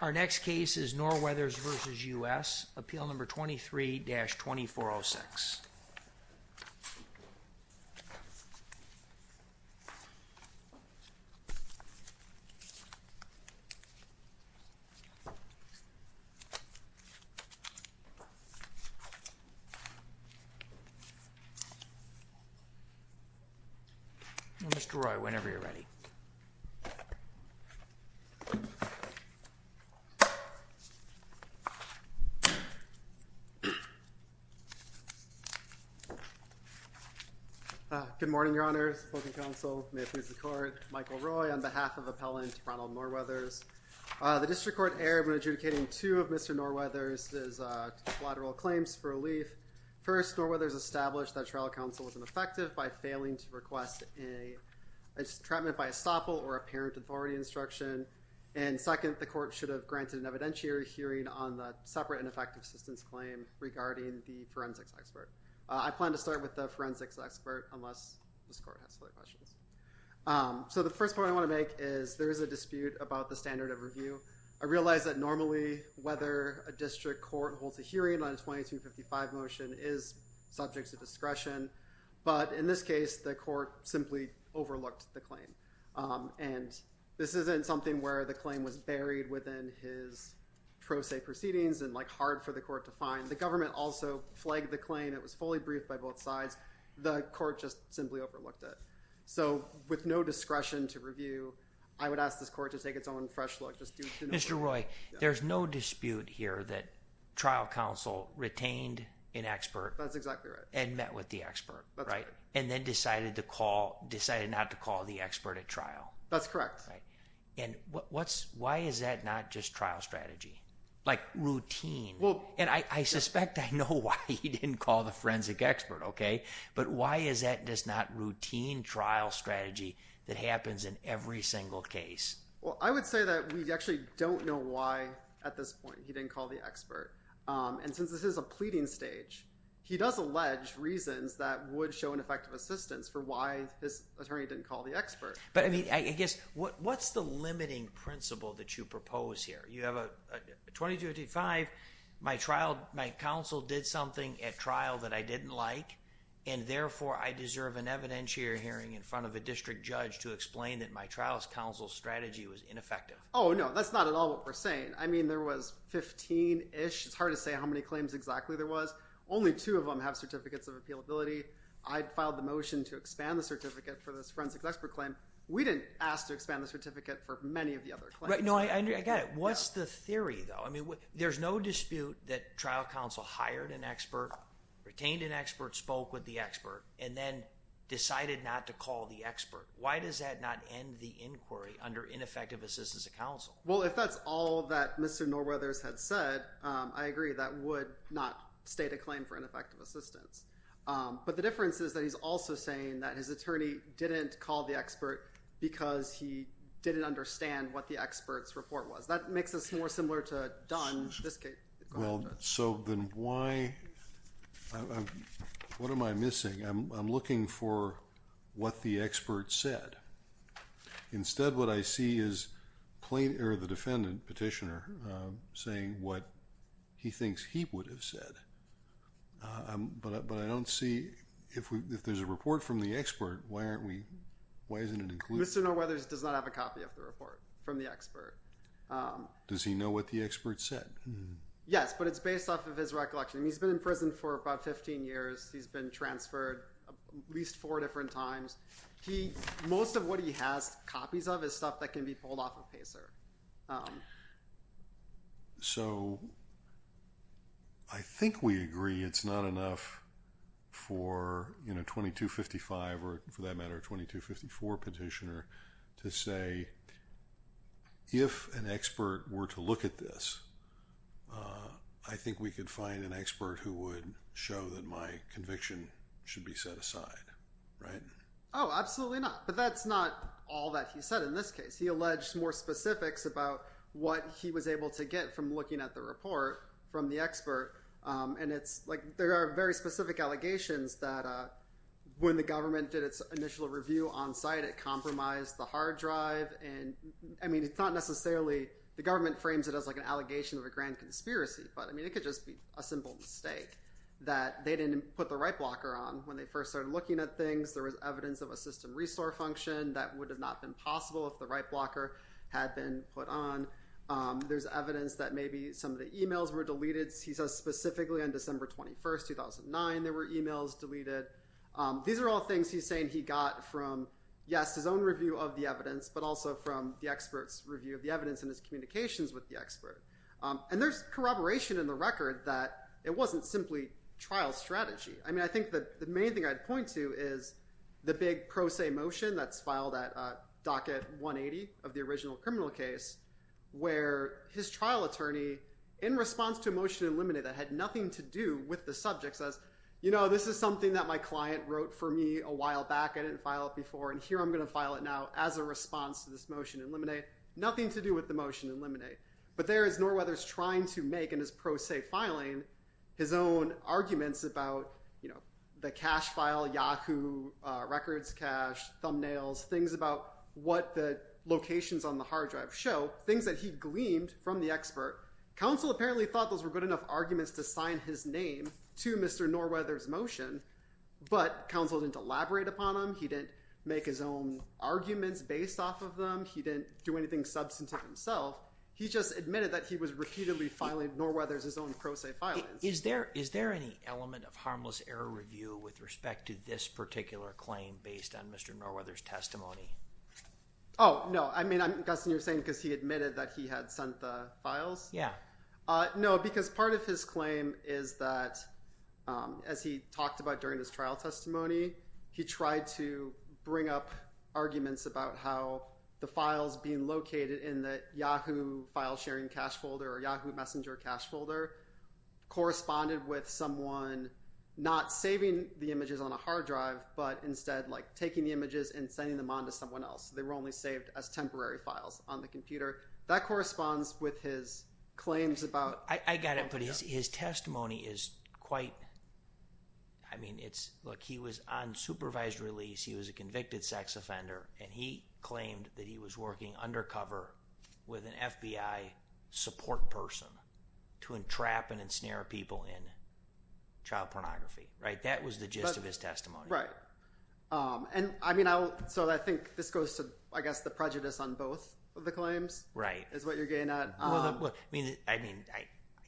Our next case is Norweathers v. U.S. Appeal No. 23-2406. Mr. Roy, whenever you're ready. Good morning, your honors, public counsel, may it please the court, Michael Roy on behalf of Appellant Ronald Norweathers. The District Court erred when adjudicating two of Mr. Norweathers' collateral claims for relief. First, Norweathers established that trial counsel was ineffective by failing to request a treatment by estoppel or apparent authority instruction. And second, the court should have granted an evidentiary hearing on the separate and effective assistance claim regarding the forensics expert. I plan to start with the forensics expert unless this court has other questions. So the first point I want to make is there is a dispute about the standard of review. I realize that normally whether a district court holds a hearing on a 2255 motion is subject to discretion. But in this case, the court simply overlooked the claim. And this isn't something where the claim was buried within his pro se proceedings and like hard for the court to find. The government also flagged the claim. It was fully briefed by both sides. The court just simply overlooked it. So with no discretion to review, I would ask this court to take its own fresh look. Mr. Roy, there's no dispute here that trial counsel retained an expert. That's exactly right. And met with the expert, right? That's correct. And then decided not to call the expert at trial. That's correct. And why is that not just trial strategy? Like routine. And I suspect I know why he didn't call the forensic expert, okay? But why is that just not routine trial strategy that happens in every single case? Well, I would say that we actually don't know why at this point he didn't call the expert. And since this is a pleading stage, he does allege reasons that would show an effective assistance for why his attorney didn't call the expert. But I mean, I guess, what's the limiting principle that you propose here? You have a 2255, my trial, my counsel did something at trial that I didn't like. And therefore, I deserve an evidentiary hearing in front of a district judge to explain that my trial's counsel strategy was ineffective. Oh, no, that's not at all what we're saying. I mean, there was 15-ish. It's hard to say how many claims exactly there was. Only two of them have certificates of appealability. I'd filed the motion to expand the certificate for this forensic expert claim. We didn't ask to expand the certificate for many of the other claims. Right, no, I get it. What's the theory, though? I mean, there's no dispute that trial counsel hired an expert, retained an expert, spoke with the expert, and then decided not to call the expert. Why does that not end the inquiry under ineffective assistance of counsel? Well, if that's all that Mr. Norweathers had said, I agree that would not state a claim for ineffective assistance. But the difference is that he's also saying that his attorney didn't call the expert because he didn't understand what the expert's report was. That makes us more similar to Dunn. Well, so then why? What am I missing? I'm looking for what the expert said. Instead, what I see is the defendant, petitioner, saying what he thinks he would have said. But I don't see, if there's a report from the expert, why isn't it included? Mr. Norweathers does not have a copy of the report from the expert. Does he know what the expert said? Yes, but it's based off of his recollection. He's been in prison for about 15 years. He's been transferred at least four different times. Most of what he has copies of is stuff that can be pulled off of PACER. So I think we agree it's not enough for 2255 or, for that matter, 2254 petitioner to say, if an expert were to look at this, I think we could find an expert who would show that my conviction should be set aside. Oh, absolutely not. But that's not all that he said in this case. He alleged more specifics about what he was able to get from looking at the report from the expert. And it's like there are very specific allegations that when the government did its initial review on site, it compromised the hard drive. And, I mean, it's not necessarily the government frames it as like an allegation of a grand conspiracy. But, I mean, it could just be a simple mistake that they didn't put the right blocker on when they first started looking at things. There was evidence of a system restore function that would have not been possible if the right blocker had been put on. There's evidence that maybe some of the e-mails were deleted. He says specifically on December 21st, 2009, there were e-mails deleted. These are all things he's saying he got from, yes, his own review of the evidence, but also from the expert's review of the evidence and his communications with the expert. And there's corroboration in the record that it wasn't simply trial strategy. I mean, I think the main thing I'd point to is the big pro se motion that's filed at docket 180 of the original criminal case where his trial attorney, in response to a motion to eliminate that had nothing to do with the subject, says, you know, this is something that my client wrote for me a while back. I didn't file it before, and here I'm going to file it now as a response to this motion to eliminate. Nothing to do with the motion to eliminate. But there is Norweather's trying to make in his pro se filing his own arguments about, you know, the cache file, Yahoo, records cache, thumbnails, things about what the locations on the hard drive show, things that he gleamed from the expert. Counsel apparently thought those were good enough arguments to sign his name to Mr. Norweather's motion, but counsel didn't elaborate upon them. He didn't make his own arguments based off of them. He didn't do anything substantive himself. He just admitted that he was repeatedly filing Norweather's own pro se filings. Is there any element of harmless error review with respect to this particular claim based on Mr. Norweather's testimony? Oh, no. I mean, I'm guessing you're saying because he admitted that he had sent the files. Yeah. No, because part of his claim is that, as he talked about during his trial testimony, he tried to bring up arguments about how the files being located in the Yahoo file sharing cache folder or Yahoo messenger cache folder corresponded with someone not saving the images on a hard drive, but instead, like, taking the images and sending them on to someone else. They were only saved as temporary files on the computer. That corresponds with his claims about… I got it. But his testimony is quite, I mean, it's, look, he was on supervised release. He was a convicted sex offender, and he claimed that he was working undercover with an FBI support person to entrap and ensnare people in child pornography. Right? That was the gist of his testimony. Right. And, I mean, so I think this goes to, I guess, the prejudice on both of the claims is what you're getting at. Well, I mean, I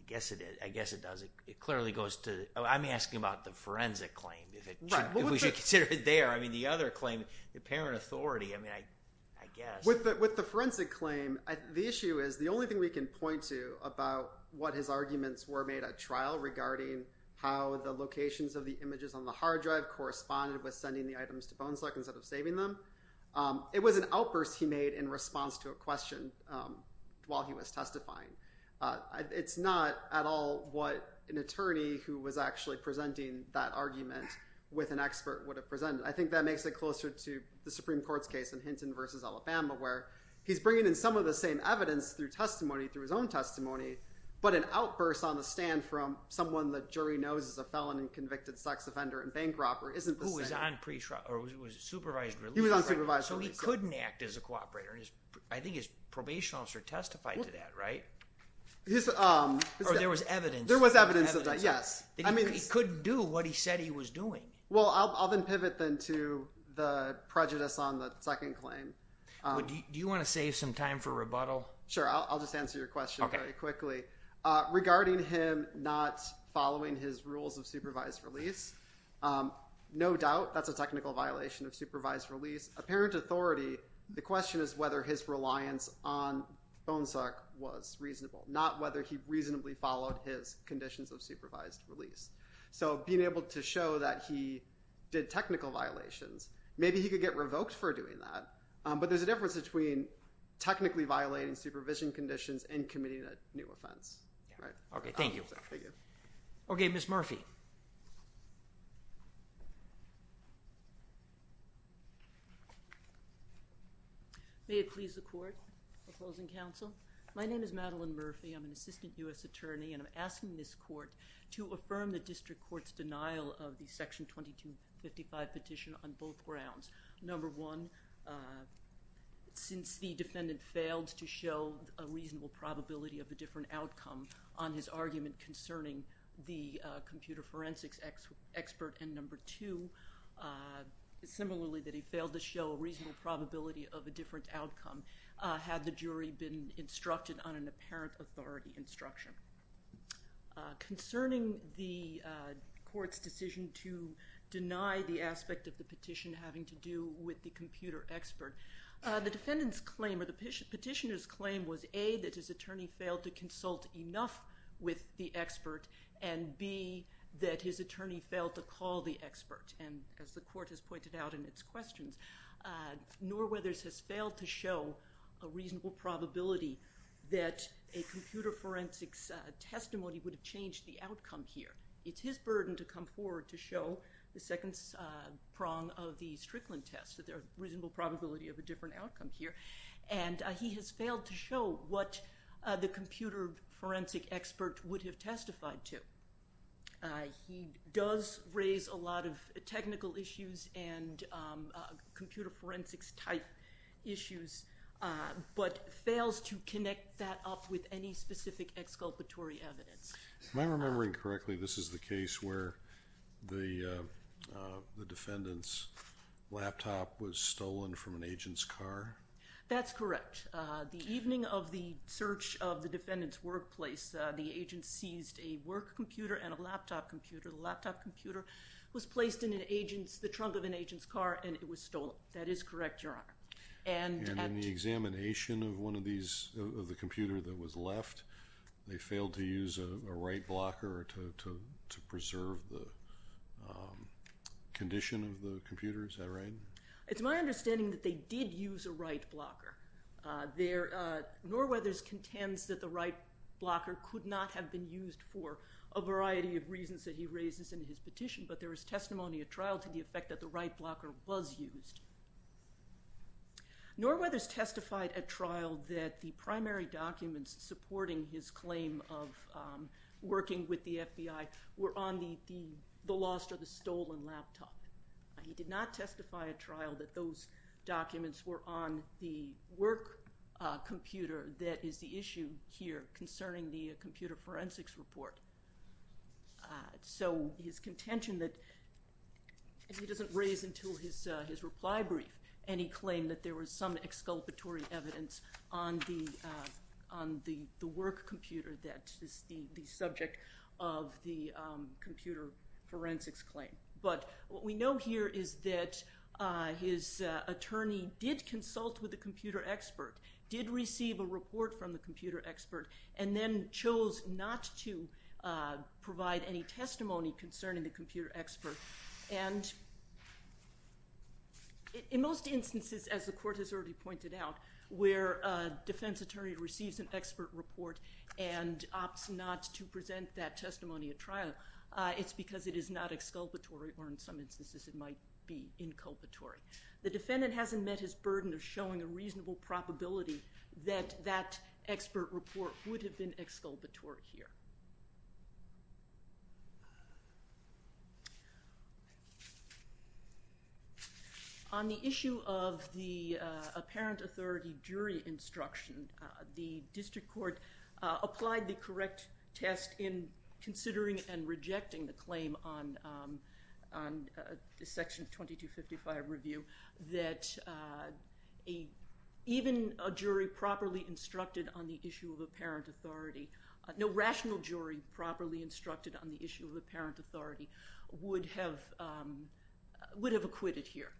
guess it does. It clearly goes to, I'm asking about the forensic claim, if we should consider it there. I mean, the other claim, the parent authority, I mean, I guess. With the forensic claim, the issue is, the only thing we can point to about what his arguments were made at trial regarding how the locations of the images on the hard drive corresponded with sending the items to Bonesluck instead of saving them, it was an outburst he made in response to a question while he was testifying. It's not at all what an attorney who was actually presenting that argument with an expert would have presented. I think that makes it closer to the Supreme Court's case in Hinton v. Alabama where he's bringing in some of the same evidence through testimony, through his own testimony, but an outburst on the stand from someone the jury knows is a felon and convicted sex offender and bank robber isn't the same. Who was on supervised release. He was on supervised release. So he couldn't act as a cooperator. I think his probation officer testified to that, right? Or there was evidence. There was evidence of that, yes. He couldn't do what he said he was doing. Well, I'll then pivot then to the prejudice on the second claim. Do you want to save some time for rebuttal? Sure, I'll just answer your question very quickly. Regarding him not following his rules of supervised release, no doubt that's a technical violation of supervised release. According to his apparent authority, the question is whether his reliance on phone suck was reasonable, not whether he reasonably followed his conditions of supervised release. So being able to show that he did technical violations, maybe he could get revoked for doing that, but there's a difference between technically violating supervision conditions and committing a new offense. Okay, thank you. Okay, Ms. Murphy. May it please the Court, opposing counsel. My name is Madeline Murphy. I'm an assistant U.S. attorney, and I'm asking this Court to affirm the district court's denial of the Section 2255 petition on both grounds. Number one, since the defendant failed to show a reasonable probability of a different outcome on his argument concerning the computer forensics expert, and number two, similarly that he failed to show a reasonable probability of a different outcome had the jury been instructed on an apparent authority instruction. Concerning the Court's decision to deny the aspect of the petition having to do with the computer expert, the defendant's claim or the petitioner's claim was A, that his attorney failed to consult enough with the expert, and B, that his attorney failed to call the expert. And as the Court has pointed out in its questions, Norwether's has failed to show a reasonable probability that a computer forensics testimony would have changed the outcome here. It's his burden to come forward to show the second prong of the Strickland test, that there's a reasonable probability of a different outcome here, and he has failed to show what the computer forensic expert would have testified to. He does raise a lot of technical issues and computer forensics type issues, but fails to connect that up with any specific exculpatory evidence. Am I remembering correctly, this is the case where the defendant's laptop was stolen from an agent's car? That's correct. The evening of the search of the defendant's workplace, the agent seized a work computer and a laptop computer. The laptop computer was placed in the trunk of an agent's car, and it was stolen. That is correct, Your Honor. And in the examination of the computer that was left, they failed to use a right blocker to preserve the condition of the computer? Is that right? It's my understanding that they did use a right blocker. Norwether's contends that the right blocker could not have been used for a variety of reasons that he raises in his petition, but there is testimony at trial to the effect that the right blocker was used. Norwether's testified at trial that the primary documents supporting his claim of working with the FBI were on the lost or the stolen laptop. He did not testify at trial that those documents were on the work computer that is the issue here concerning the computer forensics report. So his contention that he doesn't raise until his reply brief any claim that there was some exculpatory evidence on the work computer that is the subject of the computer forensics claim. But what we know here is that his attorney did consult with the computer expert, did receive a report from the computer expert, and then chose not to provide any testimony concerning the computer expert. And in most instances, as the court has already pointed out, where a defense attorney receives an expert report and opts not to present that testimony at trial, it's because it is not exculpatory or in some instances it might be inculpatory. The defendant hasn't met his burden of showing a reasonable probability that that expert report would have been exculpatory here. On the issue of the apparent authority jury instruction, the district court applied the correct test in considering and rejecting the claim on Section 2255 review that even a jury properly instructed on the issue of apparent authority, no rational jury properly instructed on the issue of apparent authority would have acquitted here.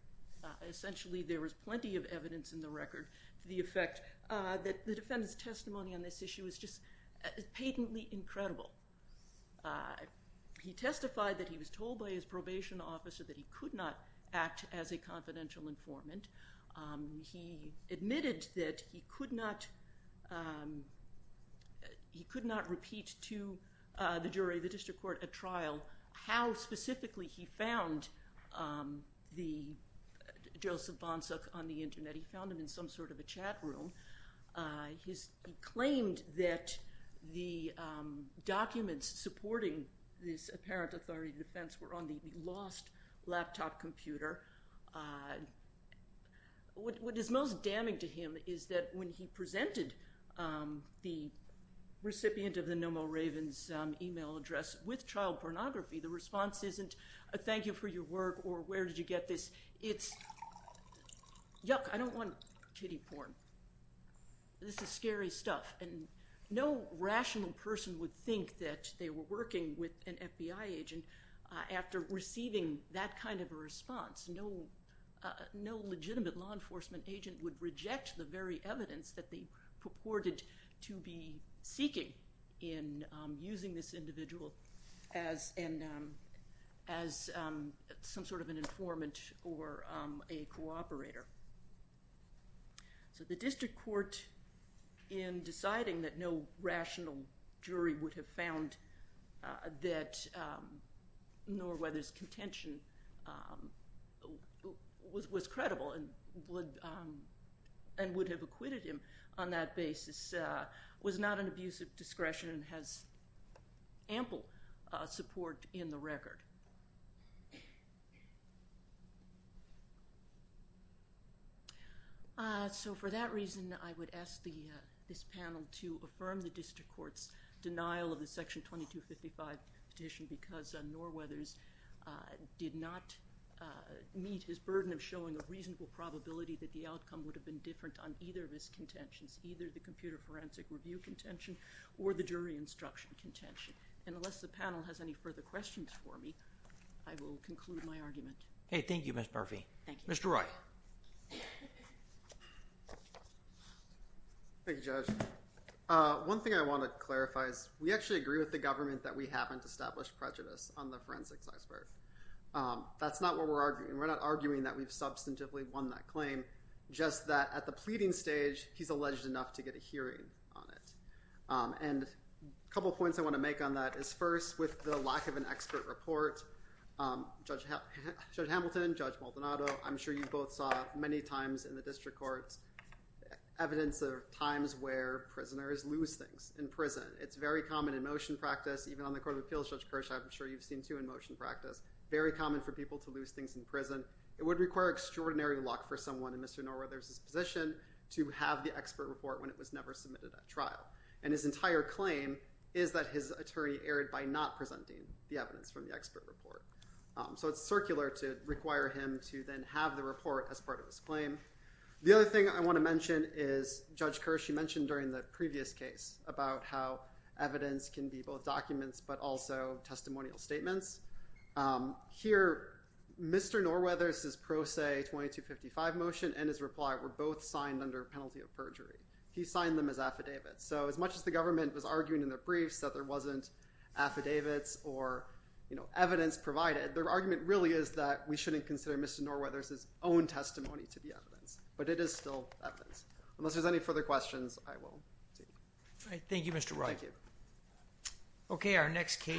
Essentially there was plenty of evidence in the record to the effect that the defendant's testimony on this issue is just patently incredible. He testified that he was told by his probation officer that he could not act as a confidential informant. He admitted that he could not repeat to the jury, the district court at trial, how specifically he found Joseph Bonsuk on the internet. He found him in some sort of a chat room. He claimed that the documents supporting this apparent authority defense were on the lost laptop computer. What is most damning to him is that when he presented the recipient of the No Mo' Ravens email address with child pornography, the response isn't a thank you for your work or where did you get this? It's yuck, I don't want kiddie porn. This is scary stuff. And no rational person would think that they were working with an FBI agent after receiving that kind of a response. No legitimate law enforcement agent would reject the very evidence that they purported to be seeking in using this individual as some sort of an informant or a cooperator. So the district court in deciding that no rational jury would have found that Norweather's contention was credible and would have acquitted him on that basis was not an abuse of discretion and has ample support in the record. So for that reason, I would ask this panel to affirm the district court's denial of the section 2255 petition because Norweather's did not meet his burden of showing a reasonable probability that the outcome would have been different on either of his contentions, either the computer forensic review contention or the jury instruction contention. And unless the panel has any further questions for me, I will conclude my argument. Thank you, Ms. Murphy. Thank you. Mr. Wright. Thank you, Judge. One thing I want to clarify is we actually agree with the government that we haven't established prejudice on the forensics iceberg. That's not what we're arguing. We're not arguing that we've substantively won that claim, just that at the pleading stage, he's alleged enough to get a hearing on it. And a couple of points I want to make on that is first, with the lack of an expert report, Judge Hamilton, Judge Maldonado, I'm sure you both saw many times in the district courts evidence of times where prisoners lose things in prison. It's very common in motion practice, even on the Court of Appeals, Judge Kirsch, I'm sure you've seen too in motion practice, very common for people to lose things in prison. It would require extraordinary luck for someone in Mr. Norweather's position to have the expert report when it was never submitted at trial. And his entire claim is that his attorney erred by not presenting the evidence from the expert report. So it's circular to require him to then have the report as part of his claim. The other thing I want to mention is Judge Kirsch, you mentioned during the previous case about how evidence can be both documents but also testimonial statements. Here, Mr. Norweather's Pro Se 2255 motion and his reply were both signed under penalty of perjury. He signed them as affidavits. So as much as the government was arguing in their briefs that there wasn't affidavits or evidence provided, their argument really is that we shouldn't consider Mr. Norweather's own testimony to be evidence. But it is still evidence. Unless there's any further questions, I will take it. Thank you, Mr. Wright. Thank you. Okay, our next case.